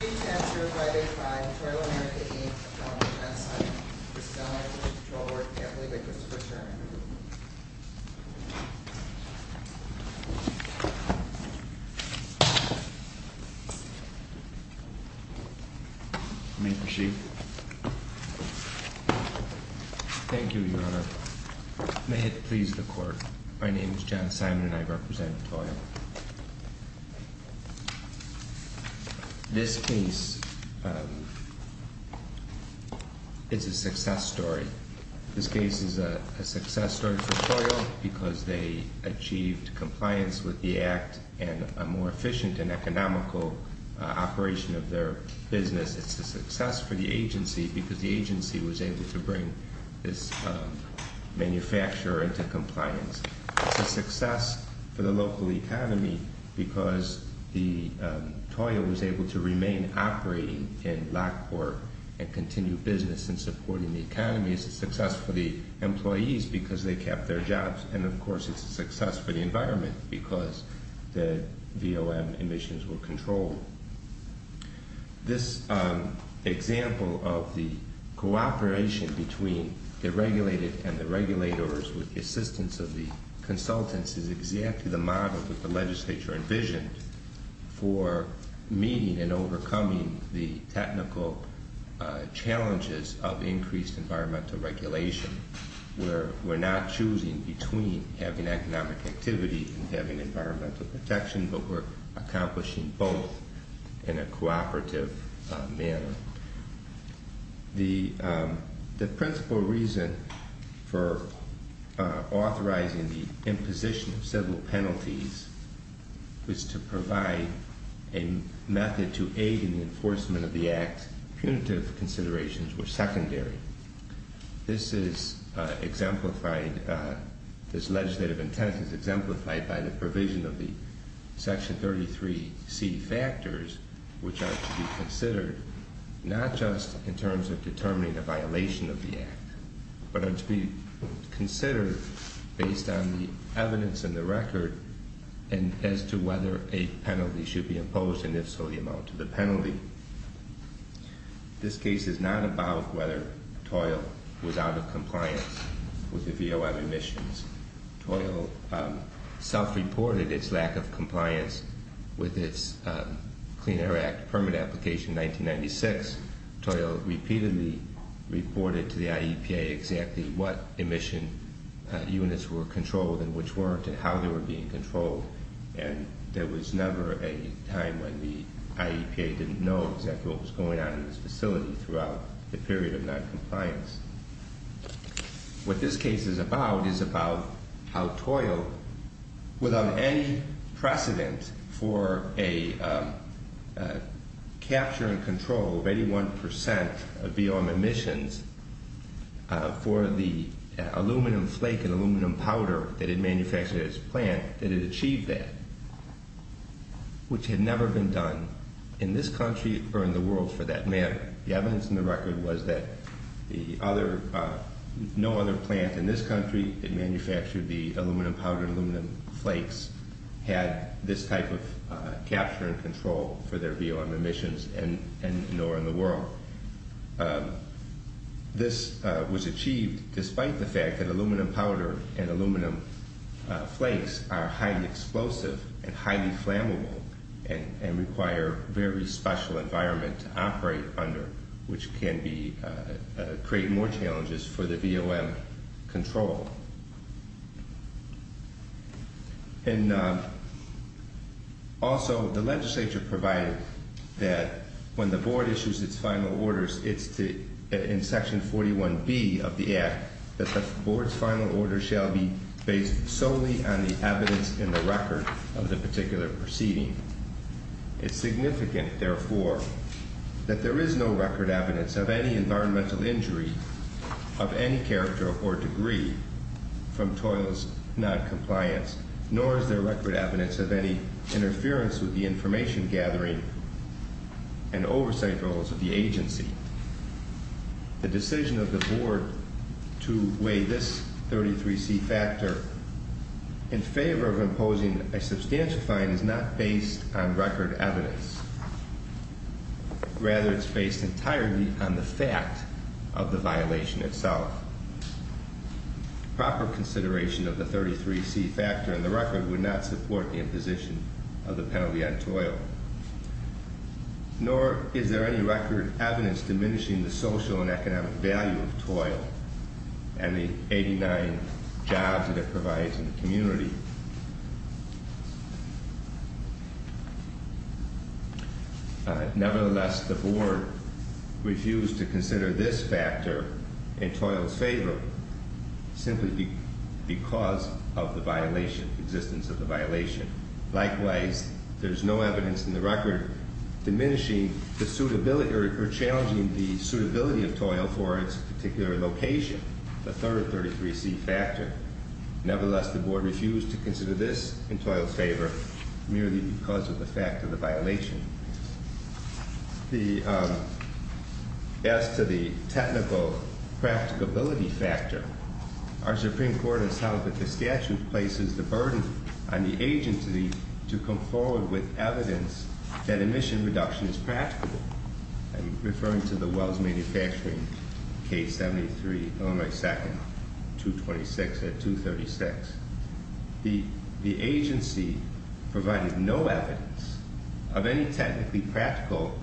Attorney Chancellor of Friday 5, Toral America v. Illinois Pollution Control Board, Anthony Vickers, for adjournment. May it proceed. Thank you, Your Honor. May it please the Court, my name is John Simon and I represent TORAL. This case is a success story. This case is a success story for TORAL because they achieved compliance with the Act and a more efficient and economical operation of their business. It's a success for the agency because the agency was able to bring this manufacturer into compliance. It's a success for the local economy because TORAL was able to remain operating in Blackport and continue business in supporting the economy. It's a success for the employees because they kept their jobs and of course it's a success for the environment because the VOM emissions were controlled. This example of the cooperation between the regulated and the regulators with the assistance of the consultants is exactly the model that the legislature envisioned for meeting and overcoming the technical challenges of increased environmental regulation. We're not choosing between having economic activity and having environmental protection but we're accomplishing both in a cooperative manner. The principal reason for authorizing the imposition of civil penalties was to provide a method to aid in the enforcement of the Act. Punitive considerations were secondary. This is exemplified, this legislative intent is exemplified by the provision of the Section 33C factors which are to be considered not just in terms of determining the violation of the Act but are to be considered based on the evidence in the record and as to whether a penalty should be imposed and if so the amount of the penalty. This case is not about whether TORAL was out of compliance with the VOM emissions. TORAL self-reported its lack of compliance with its Clean Air Act permit application in 1996. TORAL repeatedly reported to the IEPA exactly what emission units were controlled and which weren't and how they were being controlled and there was never a time when the IEPA didn't know exactly what was going on in this facility throughout the period of non-compliance. What this case is about is about how TORAL without any precedent for a capture and control of 81% of VOM emissions for the aluminum flake and aluminum powder that it manufactured at its plant that it achieved that which had never been done in this country or in the world for that matter. The evidence in the record was that no other plant in this country that manufactured the aluminum powder and aluminum flakes had this type of capture and control for their VOM emissions and nor in the world. This was achieved despite the fact that aluminum powder and aluminum flakes are highly explosive and highly flammable and require very special environment to operate under which can create more challenges for the VOM control. And also the legislature provided that when the board issues its final orders it's in section 41B of the act that the board's final order shall be based solely on the evidence in the record of the particular proceeding. It's significant therefore that there is no record evidence of any environmental injury of any character or degree from TOIL's non-compliance nor is there record evidence of any interference with the information gathering and oversight roles of the agency. The decision of the board to weigh this 33C factor in favor of imposing a substantial fine is not based on record evidence. Rather it's based entirely on the fact of the violation itself. Proper consideration of the 33C factor in the record would not support the imposition of the penalty on TOIL nor is there any record evidence diminishing the social and economic value of TOIL and the 89 jobs that it provides in the community. Nevertheless the board refused to consider this factor in TOIL's favor simply because of the violation, existence of the violation. Likewise there's no evidence in the record diminishing the suitability or challenging the suitability of TOIL for its particular location, the third 33C factor. Nevertheless the board refused to consider this in TOIL's favor merely because of the fact of the violation. As to the technical practicability factor, our Supreme Court has held that the statute places the burden on the agency to come forward with evidence that emission reduction is practical. I'm referring to the Wells Manufacturing Case 73, Illinois 2nd, 226 at 236. The agency provided no evidence of any technically practical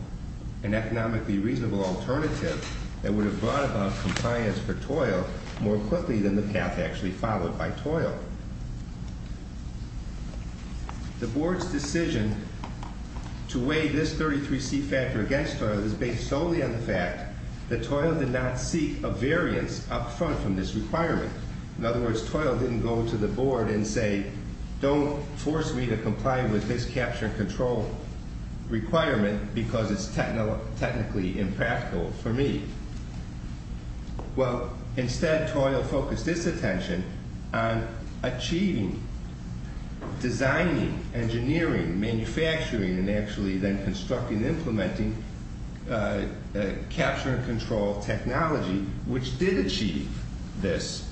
and economically reasonable alternative that would have brought about compliance for TOIL more quickly than the path actually followed by TOIL. The board's decision to weigh this 33C factor against TOIL is based solely on the fact that TOIL did not seek a variance up front from this requirement. In other words, TOIL didn't go to the board and say don't force me to comply with this capture and control requirement because it's technically impractical for me. Well, instead TOIL focused its attention on achieving, designing, engineering, manufacturing, and actually then constructing and implementing capture and control technology which did achieve this.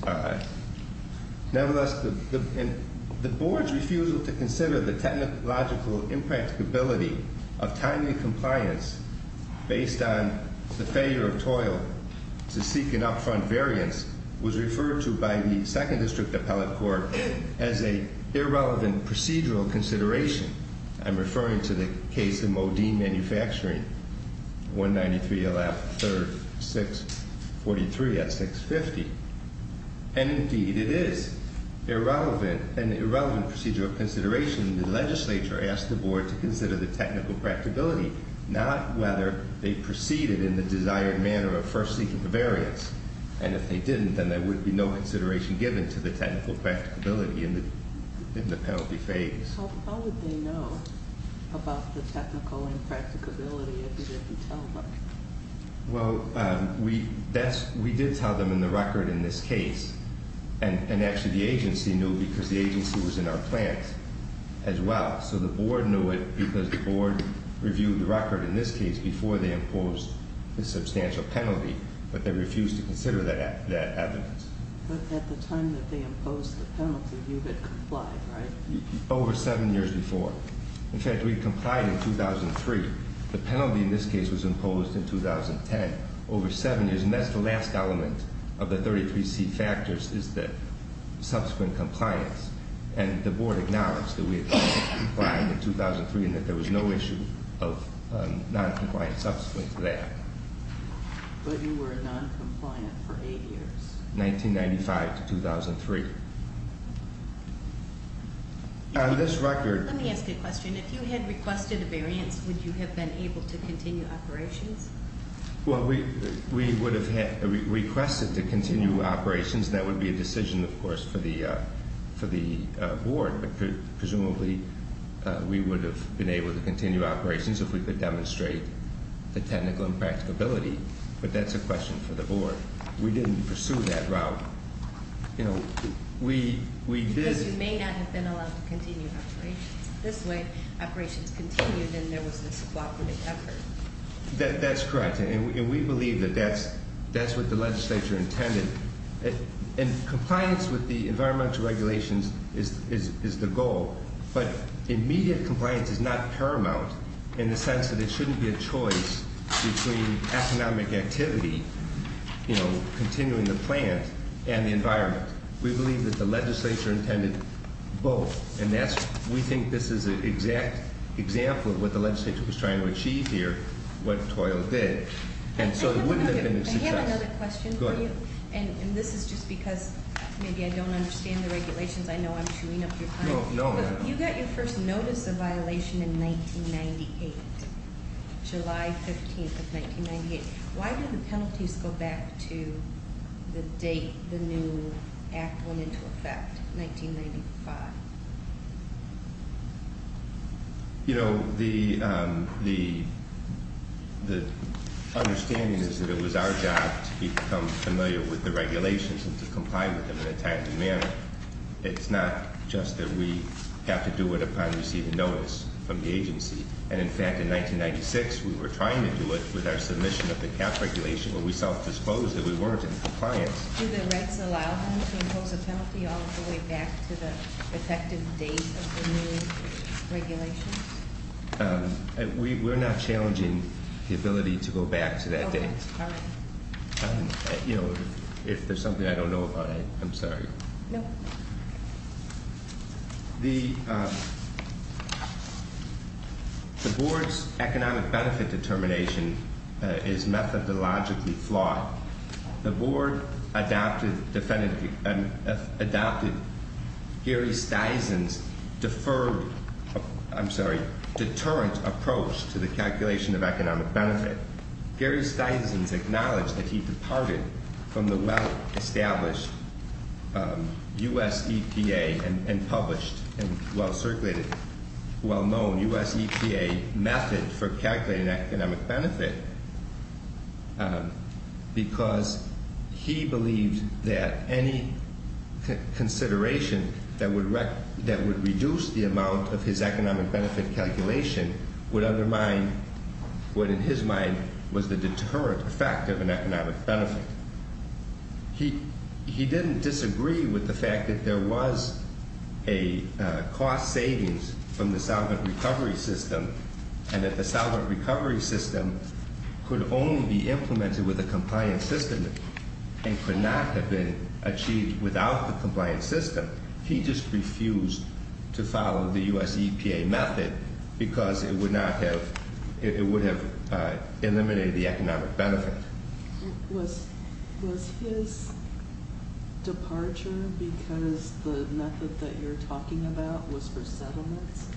Nevertheless, the board's refusal to consider the technological impracticability of timely compliance based on the failure of TOIL to seek an up front variance was referred to by the second district appellate court as a irrelevant procedural consideration. I'm referring to the case of Modine Manufacturing, 193, 3rd, 643 at 650. And indeed it is an irrelevant procedural consideration. The legislature asked the board to consider the technical practicability, not whether they proceeded in the desired manner of first seeking the variance. And if they didn't, then there would be no consideration given to the technical practicability in the penalty phase. So how would they know about the technical impracticability if they didn't tell them? Well, we did tell them in the record in this case. And actually the agency knew because the agency was in our plans as well. So the board knew it because the board reviewed the record in this case before they imposed the substantial penalty. But they refused to consider that evidence. But at the time that they imposed the penalty, you had complied, right? Over seven years before. In fact, we complied in 2003. The penalty in this case was imposed in 2010. Over seven years. And that's the last element of the 33C factors is the subsequent compliance. And the board acknowledged that we had complied in 2003 and that there was no issue of noncompliant subsequent to that. But you were noncompliant for eight years? 1995 to 2003. On this record- Let me ask you a question. If you had requested a variance, would you have been able to continue operations? Well, we would have requested to continue operations. That would be a decision, of course, for the board. But presumably, we would have been able to continue operations if we could demonstrate the technical impracticability. But that's a question for the board. We didn't pursue that route. Because you may not have been allowed to continue operations. This way, operations continued and there was this cooperative effort. That's correct. And we believe that that's what the legislature intended. And compliance with the environmental regulations is the goal. But immediate compliance is not paramount in the sense that it shouldn't be a choice between economic activity, you know, continuing the plant, and the environment. We believe that the legislature intended both. And we think this is an exact example of what the legislature was trying to achieve here, what TOIL did. I have another question for you. And this is just because maybe I don't understand the regulations. I know I'm chewing up your time. No, no. You got your first notice of violation in 1998, July 15th of 1998. Why did the penalties go back to the date the new act went into effect, 1995? You know, the understanding is that it was our job to become familiar with the regulations and to comply with them in a timely manner. It's not just that we have to do it upon receiving notice from the agency. And in fact, in 1996, we were trying to do it with our submission of the cap regulation, but we self-disclosed that we weren't in compliance. Do the rights allow them to impose a penalty all the way back to the effective date of the new regulations? We're not challenging the ability to go back to that date. All right. You know, if there's something I don't know about, I'm sorry. No. The board's economic benefit determination is methodologically flawed. The board adopted Gary Steisen's deferred, I'm sorry, deterrent approach to the calculation of economic benefit. Gary Steisen's acknowledged that he departed from the well-established U.S. EPA and published and well-circulated, well-known U.S. EPA method for calculating economic benefit. Because he believed that any consideration that would reduce the amount of his economic benefit calculation would undermine what in his mind was the deterrent effect of an economic benefit. He didn't disagree with the fact that there was a cost savings from the solvent recovery system and that the solvent recovery system could only be implemented with a compliant system and could not have been achieved without the compliant system. He just refused to follow the U.S. EPA method because it would have eliminated the economic benefit. Was his departure because the method that you're talking about was for settlements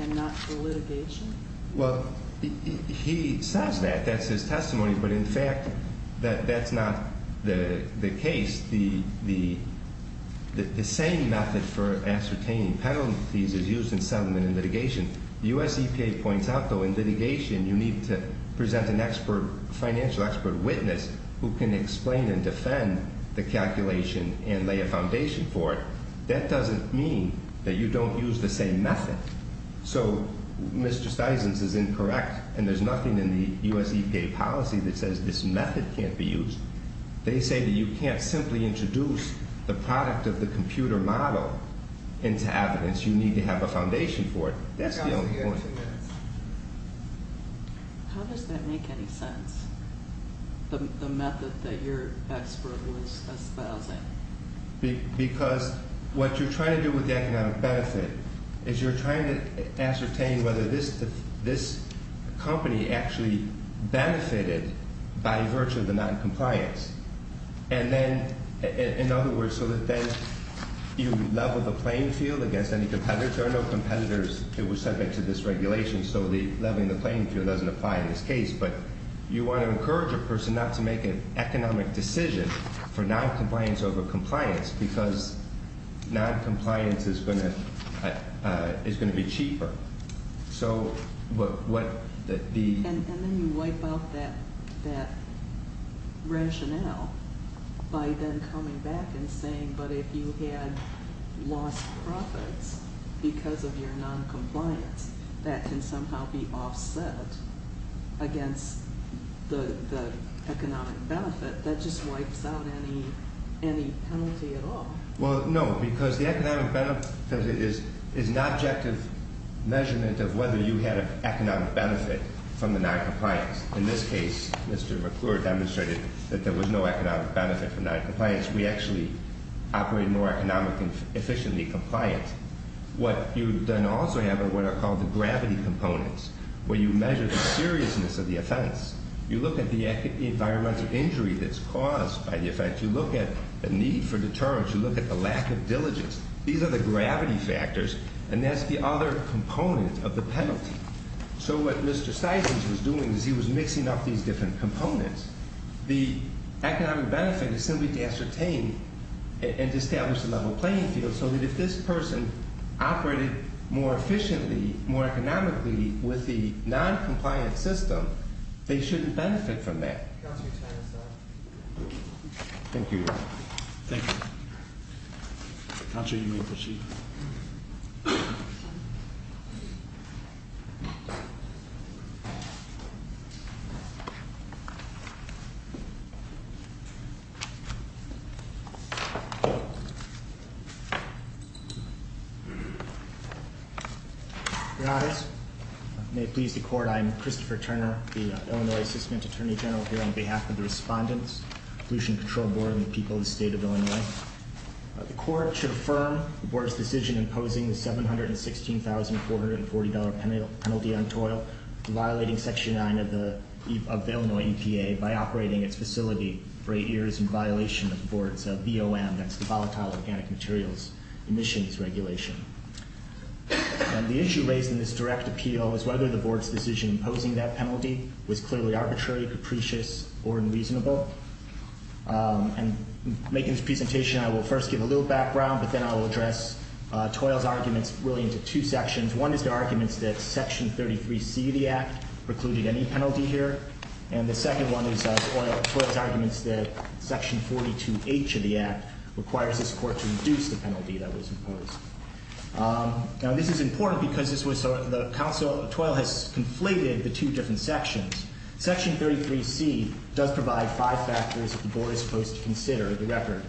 and not for litigation? Well, he says that. That's his testimony. But, in fact, that's not the case. The same method for ascertaining penalties is used in settlement and litigation. The U.S. EPA points out, though, in litigation you need to present an expert, financial expert witness who can explain and defend the calculation and lay a foundation for it. That doesn't mean that you don't use the same method. So, Mr. Steisen's is incorrect and there's nothing in the U.S. EPA policy that says this method can't be used. They say that you can't simply introduce the product of the computer model into evidence. You need to have a foundation for it. That's the only point. How does that make any sense, the method that your expert was espousing? Because what you're trying to do with the economic benefit is you're trying to ascertain whether this company actually benefited by virtue of the noncompliance. And then, in other words, so that then you level the playing field against any competitors. There are no competitors that were subject to this regulation, so leveling the playing field doesn't apply in this case. But you want to encourage a person not to make an economic decision for noncompliance over compliance because noncompliance is going to be cheaper. And then you wipe out that rationale by then coming back and saying, but if you had lost profits because of your noncompliance, that can somehow be offset against the economic benefit. That just wipes out any penalty at all. Well, no, because the economic benefit is an objective measurement of whether you had an economic benefit from the noncompliance. In this case, Mr. McClure demonstrated that there was no economic benefit from noncompliance. We actually operate more economically efficiently compliant. What you then also have are what are called the gravity components, where you measure the seriousness of the offense. You look at the environmental injury that's caused by the offense. You look at the need for deterrence. You look at the lack of diligence. These are the gravity factors, and that's the other component of the penalty. So what Mr. Stisons was doing is he was mixing up these different components. The economic benefit is simply to ascertain and to establish a level playing field so that if this person operated more efficiently, more economically with the noncompliant system, they shouldn't benefit from that. Thank you. Thank you. I'm sure you need the sheet. Your honors. May it please the court, I am Christopher Turner, the Illinois Assistant Attorney General, here on behalf of the respondents of the Pollution Control Board of the people of the state of Illinois. The court should affirm the board's decision imposing the $716,440 penalty on toil, violating Section 9 of the Illinois EPA by operating its facility for eight years in violation of the board's BOM, that's the Volatile Organic Materials Emissions Regulation. And the issue raised in this direct appeal is whether the board's decision imposing that penalty was clearly arbitrary, capricious, or unreasonable. And making this presentation, I will first give a little background, but then I will address toil's arguments really into two sections. One is the arguments that Section 33C of the Act precluded any penalty here. And the second one is toil's arguments that Section 42H of the Act requires this court to reduce the penalty that was imposed. Now, this is important because this was, the counsel, toil has conflated the two different sections. Section 33C does provide five factors that the board is supposed to consider, the record,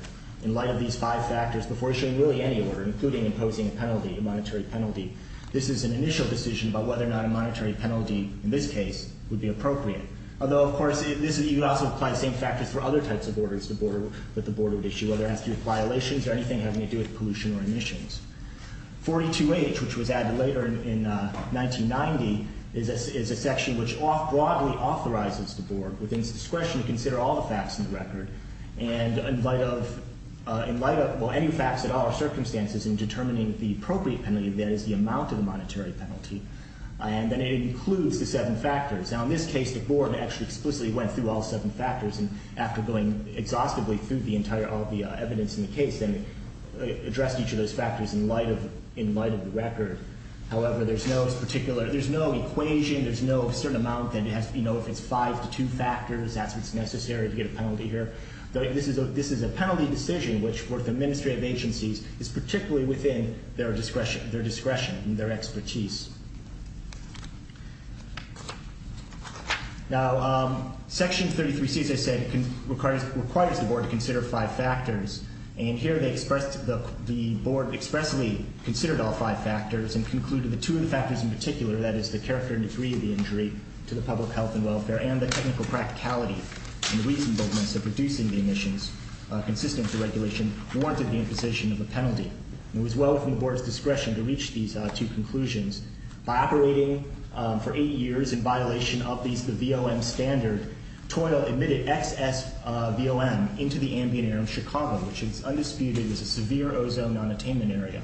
in light of these five factors before issuing really any order, including imposing a penalty, a monetary penalty. This is an initial decision about whether or not a monetary penalty, in this case, would be appropriate. Although, of course, you could also apply the same factors for other types of orders that the board would issue, whether it has to do with violations or anything having to do with pollution or emissions. 42H, which was added later in 1990, is a section which broadly authorizes the board, within its discretion, to consider all the facts in the record. And in light of, well, any facts at all circumstances in determining the appropriate penalty, that is, the amount of the monetary penalty. And then it includes the seven factors. Now, in this case, the board actually explicitly went through all seven factors. And after going exhaustively through the entire, all the evidence in the case, then addressed each of those factors in light of, in light of the record. However, there's no particular, there's no equation, there's no certain amount that has, you know, if it's five to two factors, that's what's necessary to get a penalty here. This is a, this is a penalty decision which, for the administrative agencies, is particularly within their discretion, their discretion and their expertise. Now, Section 33C, as I said, requires the board to consider five factors. And here they expressed, the board expressly considered all five factors and concluded that two of the factors in particular, that is, the character and degree of the injury to the public health and welfare, and the technical practicality and reasonableness of reducing the emissions consistent with the regulation, warranted the imposition of a penalty. It was well within the board's discretion to reach these two conclusions. By operating for eight years in violation of these, the VOM standard, toil emitted excess VOM into the ambient air in Chicago, which is undisputed as a severe ozone non-attainment area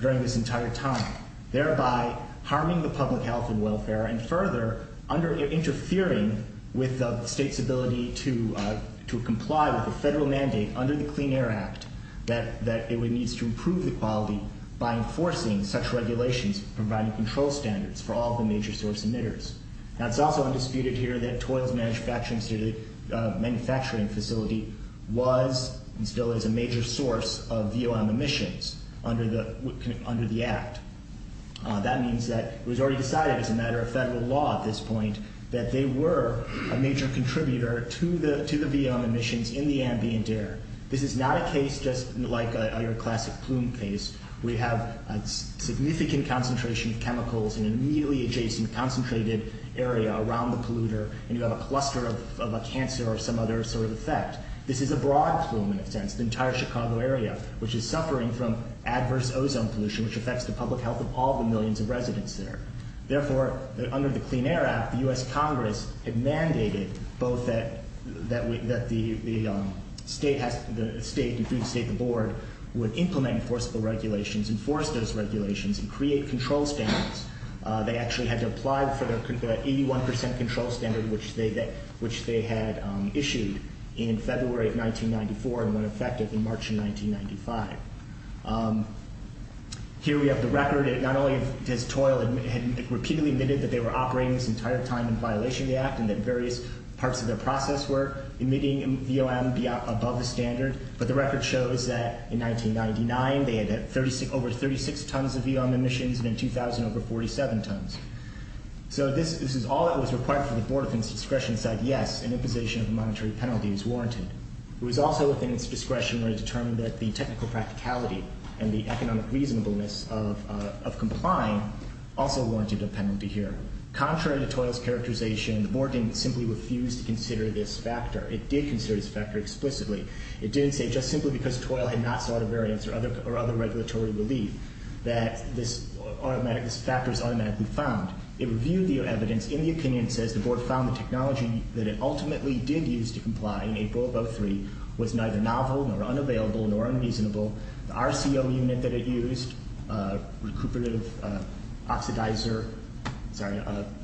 during this entire time, thereby harming the public health and welfare, and further, under interfering with the state's ability to comply with the federal mandate under the Clean Air Act, that it needs to improve the quality by enforcing such regulations providing control standards for all the major source emitters. Now, it's also undisputed here that toil's manufacturing facility was and still is a major source of VOM emissions under the Act. That means that it was already decided as a matter of federal law at this point that they were a major contributor to the VOM emissions in the ambient air. This is not a case just like your classic plume case. We have a significant concentration of chemicals in an immediately adjacent concentrated area around the polluter, and you have a cluster of a cancer or some other sort of effect. This is a broad plume in a sense, the entire Chicago area, which is suffering from adverse ozone pollution, which affects the public health of all the millions of residents there. Therefore, under the Clean Air Act, the U.S. Congress had mandated both that the state and through the state the board would implement enforceable regulations, enforce those regulations, and create control standards. They actually had to apply for the 81 percent control standard, which they had issued in February of 1994 and went effective in March of 1995. Here we have the record. Not only has toil repeatedly admitted that they were operating this entire time in violation of the Act and that various parts of their process were emitting VOM above the standard, but the record shows that in 1999 they had over 36 tons of VOM emissions and in 2000 over 47 tons. So this is all that was required for the board of its discretion to say, yes, an imposition of a monetary penalty is warranted. It was also within its discretion to determine that the technical practicality and the economic reasonableness of complying also warranted a penalty here. Contrary to toil's characterization, the board didn't simply refuse to consider this factor. It did consider this factor explicitly. It didn't say just simply because toil had not sought a variance or other regulatory relief that this factor is automatically found. It reviewed the evidence in the opinion and says the board found the technology that it ultimately did use to comply in April of 2003 was neither novel nor unavailable nor unreasonable. The RCO unit that it used, recuperative oxidizer, sorry.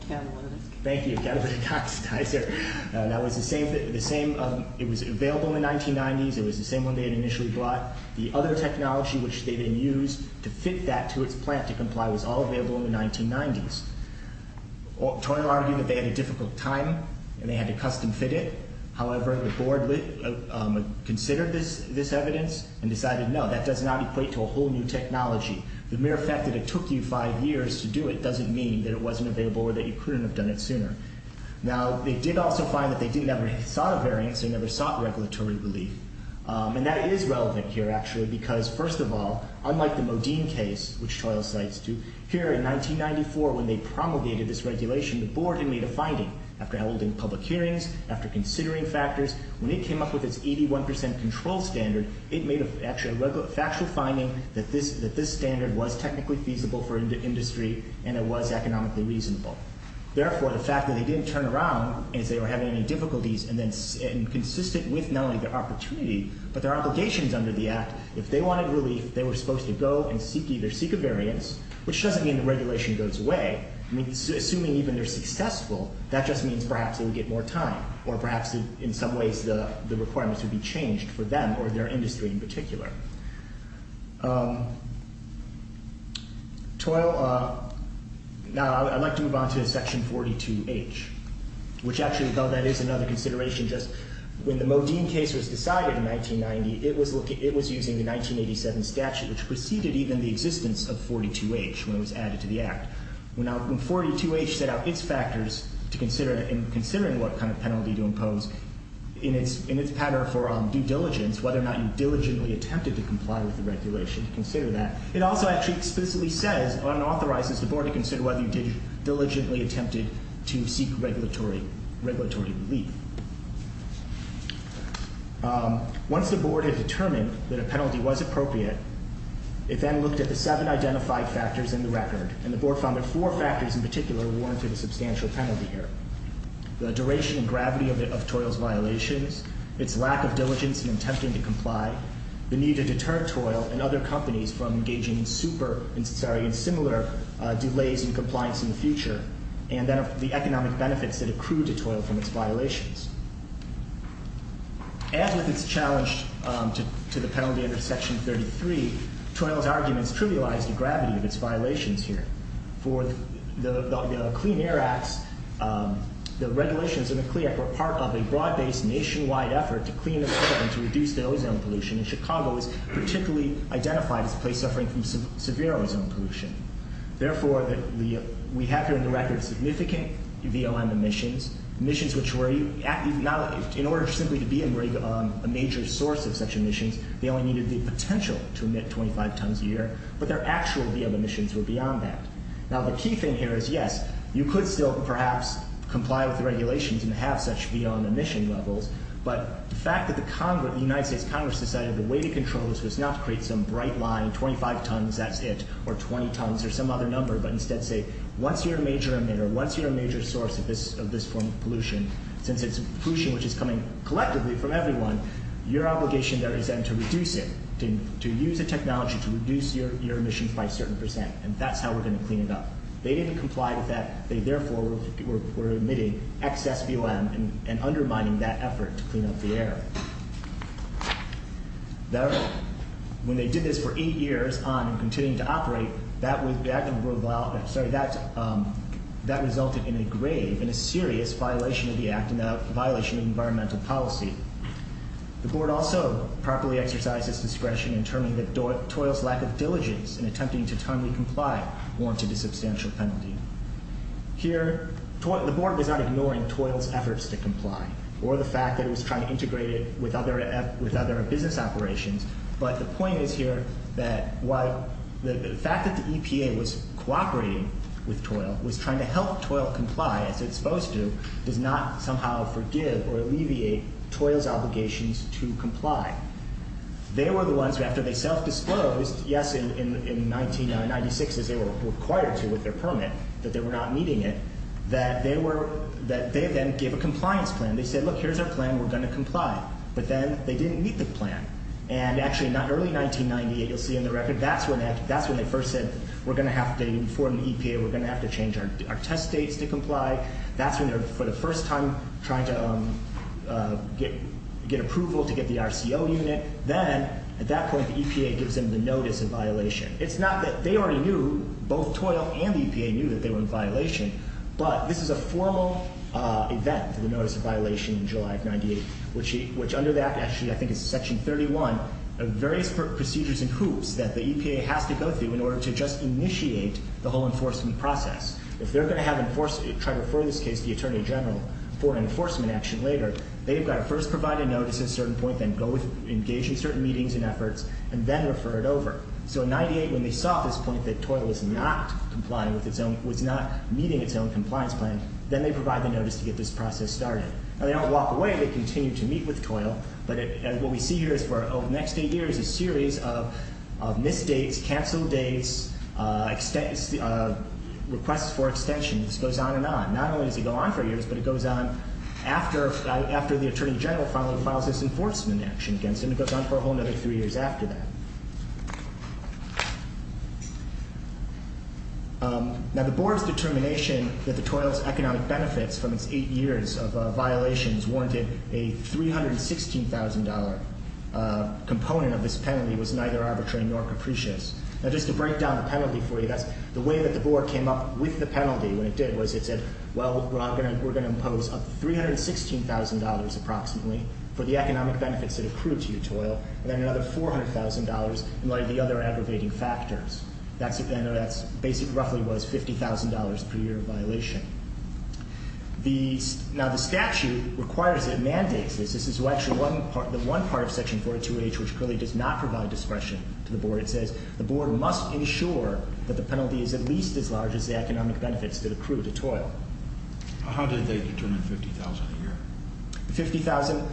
Catalytic. Thank you, catalytic oxidizer. That was the same. It was available in the 1990s. It was the same one they had initially bought. The other technology which they then used to fit that to its plant to comply was all available in the 1990s. Toil argued that they had a difficult time and they had to custom fit it. However, the board considered this evidence and decided no, that does not equate to a whole new technology. The mere fact that it took you five years to do it doesn't mean that it wasn't available or that you couldn't have done it sooner. Now, they did also find that they never sought a variance. They never sought regulatory relief. And that is relevant here actually because, first of all, unlike the Modine case, which Toil cites too, here in 1994 when they promulgated this regulation, the board had made a finding. After holding public hearings, after considering factors, when it came up with its 81% control standard, it made actually a factual finding that this standard was technically feasible for industry and it was economically reasonable. Therefore, the fact that they didn't turn around as they were having any difficulties and consistent with not only the opportunity but their obligations under the Act, if they wanted relief, they were supposed to go and seek a variance, which doesn't mean the regulation goes away. Assuming even they're successful, that just means perhaps they would get more time or perhaps in some ways the requirements would be changed for them or their industry in particular. Toil, now I'd like to move on to Section 42H, which actually, though that is another consideration, just when the Modine case was decided in 1990, it was using the 1987 statute, which preceded even the existence of 42H when it was added to the Act. When 42H set out its factors to consider and considering what kind of penalty to impose, in its pattern for due diligence, whether or not you diligently attempted to comply with the regulation, to consider that, it also actually explicitly says, or it authorizes the Board to consider whether you diligently attempted to seek regulatory relief. Once the Board had determined that a penalty was appropriate, it then looked at the seven identified factors in the record, and the Board found that four factors in particular warranted a substantial penalty here. The duration and gravity of Toil's violations, its lack of diligence in attempting to comply, the need to deter Toil and other companies from engaging in similar delays in compliance in the future, and then the economic benefits that accrue to Toil from its violations. As with its challenge to the penalty under Section 33, Toil's arguments trivialized the gravity of its violations here. For the Clean Air Act, the regulations in the Clean Air Act were part of a broad-based nationwide effort to clean up and to reduce the ozone pollution, and Chicago is particularly identified as a place suffering from severe ozone pollution. Therefore, we have here in the record significant VOM emissions, emissions which were, in order simply to be a major source of such emissions, but their actual VOM emissions were beyond that. Now, the key thing here is, yes, you could still perhaps comply with the regulations and have such VOM emission levels, but the fact that the United States Congress decided the way to control this was not to create some bright line, 25 tons, that's it, or 20 tons, or some other number, but instead say, once you're a major emitter, once you're a major source of this form of pollution, since it's pollution which is coming collectively from everyone, your obligation there is then to reduce it, to use a technology to reduce your emissions by a certain percent, and that's how we're going to clean it up. They didn't comply with that. They, therefore, were emitting excess VOM and undermining that effort to clean up the air. When they did this for eight years on and continuing to operate, that resulted in a grave and a serious violation of the act and a violation of environmental policy. The board also properly exercised its discretion in terming that Toil's lack of diligence in attempting to timely comply warranted a substantial penalty. Here, the board was not ignoring Toil's efforts to comply or the fact that it was trying to integrate it with other business operations, but the point is here that the fact that the EPA was cooperating with Toil, was trying to help Toil comply as it's supposed to, does not somehow forgive or alleviate Toil's obligations to comply. They were the ones, after they self-disclosed, yes, in 1996, as they were required to with their permit, that they were not meeting it, that they then gave a compliance plan. They said, look, here's our plan, we're going to comply. But then they didn't meet the plan. And, actually, in early 1998, you'll see in the record, that's when they first said, we're going to have to inform the EPA, we're going to have to change our test dates to comply. That's when they're, for the first time, trying to get approval to get the RCO unit. Then, at that point, the EPA gives them the notice of violation. It's not that they already knew, both Toil and the EPA knew that they were in violation, but this is a formal event, the notice of violation in July of 1998, which under that, actually, I think it's Section 31, various procedures and hoops that the EPA has to go through in order to just initiate the whole enforcement process. If they're going to try to refer this case to the Attorney General for enforcement action later, they've got to first provide a notice at a certain point, then engage in certain meetings and efforts, and then refer it over. So, in 1998, when they saw at this point that Toil was not meeting its own compliance plan, then they provide the notice to get this process started. Now, they don't walk away, they continue to meet with Toil, but what we see here is, for the next eight years, a series of missed dates, canceled dates, requests for extension. This goes on and on. Not only does it go on for years, but it goes on after the Attorney General finally files his enforcement action against him. It goes on for a whole other three years after that. Now, the Board's determination that the Toil's economic benefits from its eight years of violations warranted a $316,000 component of this penalty was neither arbitrary nor capricious. Now, just to break down the penalty for you, the way that the Board came up with the penalty when it did was it said, well, we're going to impose $316,000 approximately for the economic benefits that accrue to Toil, and then another $400,000 in light of the other aggravating factors. That basically roughly was $50,000 per year of violation. Now, the statute requires it, mandates this. This is actually the one part of Section 42H which clearly does not provide discretion to the Board. It says the Board must ensure that the penalty is at least as large as the economic benefits that accrue to Toil. How did they determine $50,000 a year? $50,000,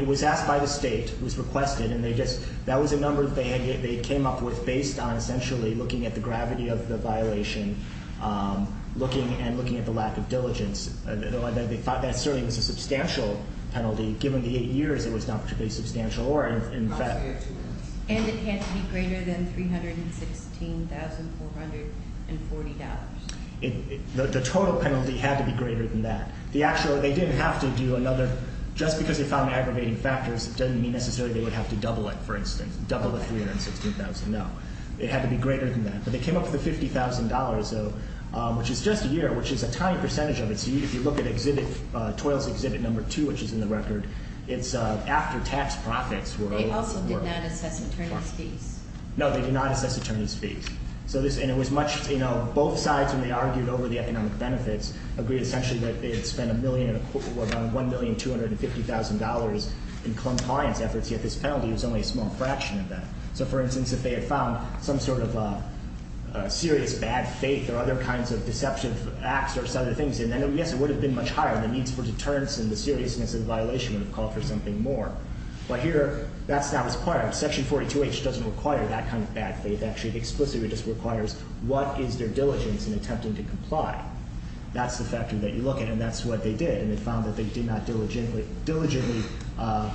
it was asked by the State, it was requested, and that was a number that they came up with based on essentially looking at the gravity of the violation, looking at the lack of diligence. That certainly was a substantial penalty. Given the eight years, it was not particularly substantial. And it had to be greater than $316,440. The total penalty had to be greater than that. They didn't have to do another, just because they found aggravating factors doesn't mean necessarily they would have to double it, for instance, double the $316,000. No. It had to be greater than that. But they came up with the $50,000, which is just a year, which is a tiny percentage of it. If you look at Toil's Exhibit No. 2, which is in the record, it's after tax profits were owed. They also did not assess attorney's fees. No, they did not assess attorney's fees. Both sides, when they argued over the economic benefits, agreed essentially that they had spent about $1,250,000 in compliance efforts, yet this penalty was only a small fraction of that. So, for instance, if they had found some sort of a serious bad faith or other kinds of deceptive acts or other things, then, yes, it would have been much higher. The needs for deterrence and the seriousness of the violation would have called for something more. But here, that's not required. Section 42H doesn't require that kind of bad faith. Actually, it explicitly just requires what is their diligence in attempting to comply. That's the factor that you look at, and that's what they did. And they found that they did not diligently devote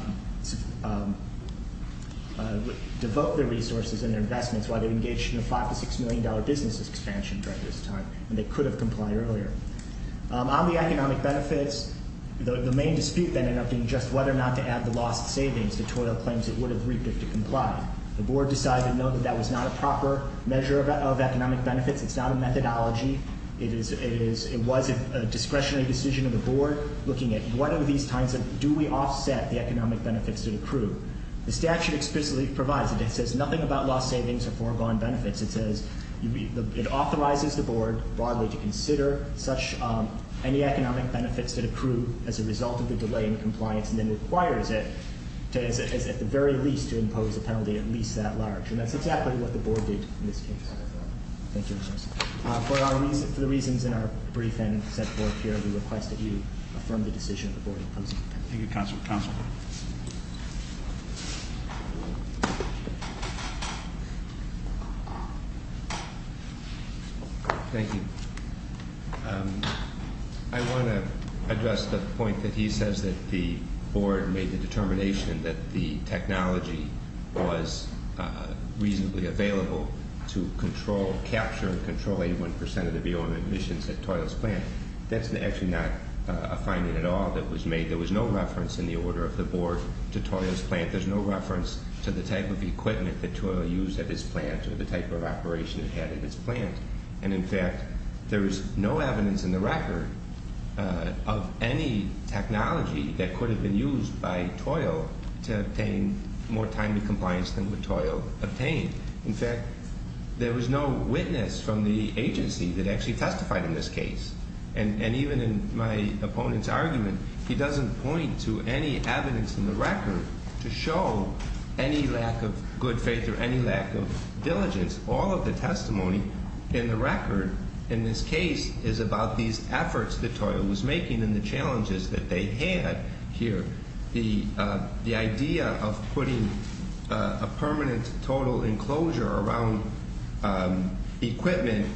their resources and their investments while they engaged in a $5-$6 million business expansion during this time, and they could have complied earlier. On the economic benefits, the main dispute then ended up being just whether or not to add the lost savings that Toil claims it would have reaped if it complied. The Board decided to note that that was not a proper measure of economic benefits. It's not a methodology. It was a discretionary decision of the Board looking at what are these kinds of – do we offset the economic benefits that accrue? The statute explicitly provides it. It says nothing about lost savings or foregone benefits. It says – it authorizes the Board, broadly, to consider such – any economic benefits that accrue as a result of the delay in compliance, and then requires it, at the very least, to impose a penalty at least that large. And that's exactly what the Board did in this case. Thank you, Mr. Chairman. For the reasons in our brief and set forth here, we request that you affirm the decision of the Board. Thank you, Counselor. Counselor. Thank you. I want to address the point that he says that the Board made the determination that the technology was reasonably available to control, capture, and control 81 percent of the BOM emissions at Toil's plant. That's actually not a finding at all that was made. There was no reference in the order of the Board to Toil's plant. There's no reference to the type of equipment that Toil used at his plant or the type of operation it had at his plant. And, in fact, there is no evidence in the record of any technology that could have been used by Toil to obtain more time to compliance than what Toil obtained. In fact, there was no witness from the agency that actually testified in this case. And even in my opponent's argument, he doesn't point to any evidence in the record to show any lack of good faith or any lack of diligence. All of the testimony in the record in this case is about these efforts that Toil was making and the challenges that they had here. The idea of putting a permanent total enclosure around equipment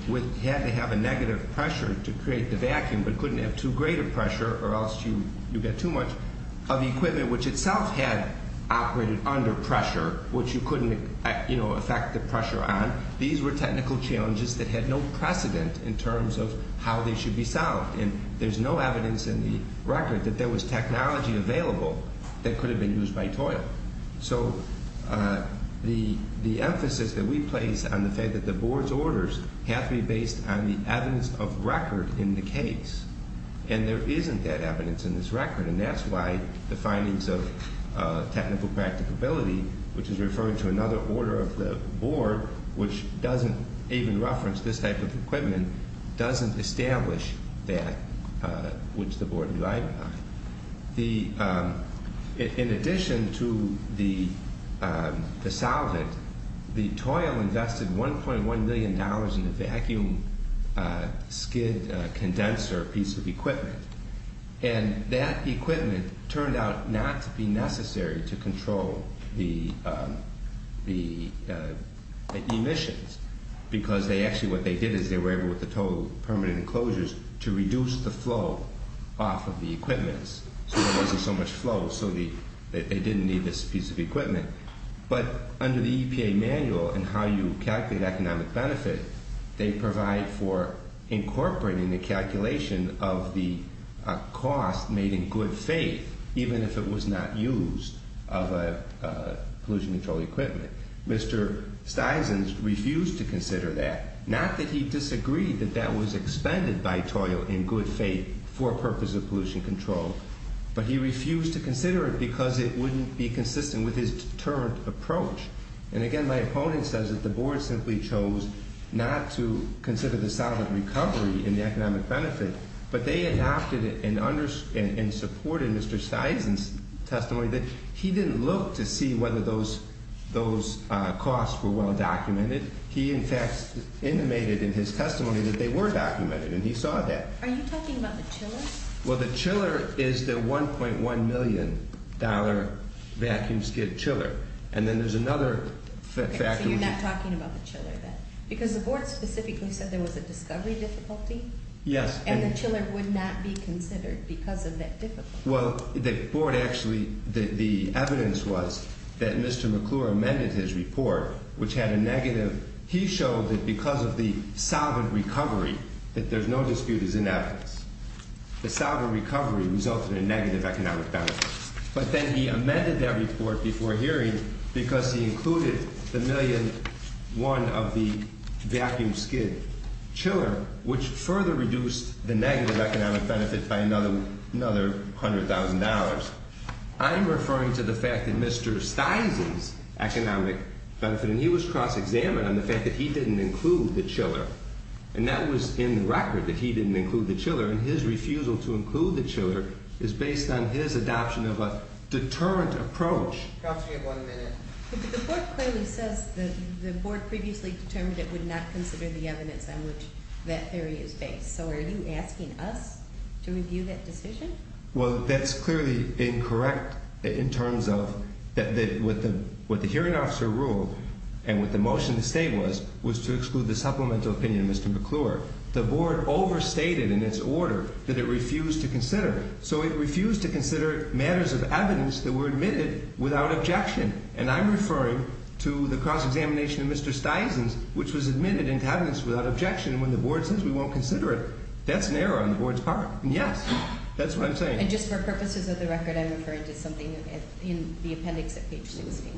had to have a negative pressure to create the vacuum but couldn't have too great a pressure or else you get too much of the equipment, which itself had operated under pressure, which you couldn't affect the pressure on. These were technical challenges that had no precedent in terms of how they should be solved. And there's no evidence in the record that there was technology available that could have been used by Toil. So the emphasis that we place on the fact that the Board's orders have to be based on the evidence of record in the case, and there isn't that evidence in this record. And that's why the findings of technical practicability, which is referred to another order of the Board, which doesn't even reference this type of equipment, doesn't establish that which the Board relied on. In addition to the solvent, Toil invested $1.1 million in a vacuum skid condenser piece of equipment, and that equipment turned out not to be necessary to control the emissions because actually what they did is they were able, with the Toil permanent enclosures, to reduce the flow off of the equipment. So there wasn't so much flow, so they didn't need this piece of equipment. But under the EPA manual and how you calculate economic benefit, they provide for incorporating the calculation of the cost made in good faith, even if it was not used, of a pollution control equipment. Mr. Stisons refused to consider that, not that he disagreed that that was expended by Toil in good faith for purpose of pollution control, but he refused to consider it because it wouldn't be consistent with his determined approach. And again, my opponent says that the Board simply chose not to consider the solvent recovery in the economic benefit, but they adopted and supported Mr. Stison's testimony that he didn't look to see whether those costs were well documented. He, in fact, intimated in his testimony that they were documented, and he saw that. Are you talking about the chiller? Well, the chiller is the $1.1 million vacuum skid chiller. And then there's another factor. So you're not talking about the chiller then? Because the Board specifically said there was a discovery difficulty. Yes. And the chiller would not be considered because of that difficulty. Well, the Board actually, the evidence was that Mr. McClure amended his report, which had a negative, he showed that because of the solvent recovery, that there's no dispute is in evidence. The solvent recovery resulted in negative economic benefit. But then he amended that report before hearing because he included the $1.1 million of the vacuum skid chiller, which further reduced the negative economic benefit by another $100,000. I'm referring to the fact that Mr. Stison's economic benefit, and he was cross-examined on the fact that he didn't include the chiller. And that was in the record, that he didn't include the chiller. And his refusal to include the chiller is based on his adoption of a deterrent approach. Counsel, you have one minute. The Board clearly says the Board previously determined it would not consider the evidence on which that theory is based. So are you asking us to review that decision? Well, that's clearly incorrect in terms of what the hearing officer ruled and what the motion to state was, was to exclude the supplemental opinion of Mr. McClure. The Board overstated in its order that it refused to consider. So it refused to consider matters of evidence that were admitted without objection. And I'm referring to the cross-examination of Mr. Stison's, which was admitted into evidence without objection when the Board says we won't consider it. That's an error on the Board's part. And yes, that's what I'm saying. And just for purposes of the record, I'm referring to something in the appendix at page 16.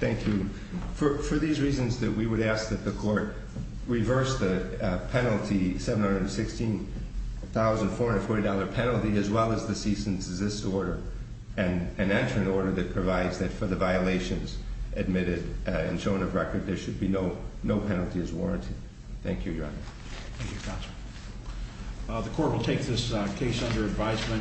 Thank you. For these reasons, we would ask that the Court reverse the penalty, $716,440 penalty, as well as the cease and desist order, and enter an order that provides that for the violations admitted and shown of record, there should be no penalties warranted. Thank you, Your Honor. Thank you, Counsel. The Court will take this case under advisement.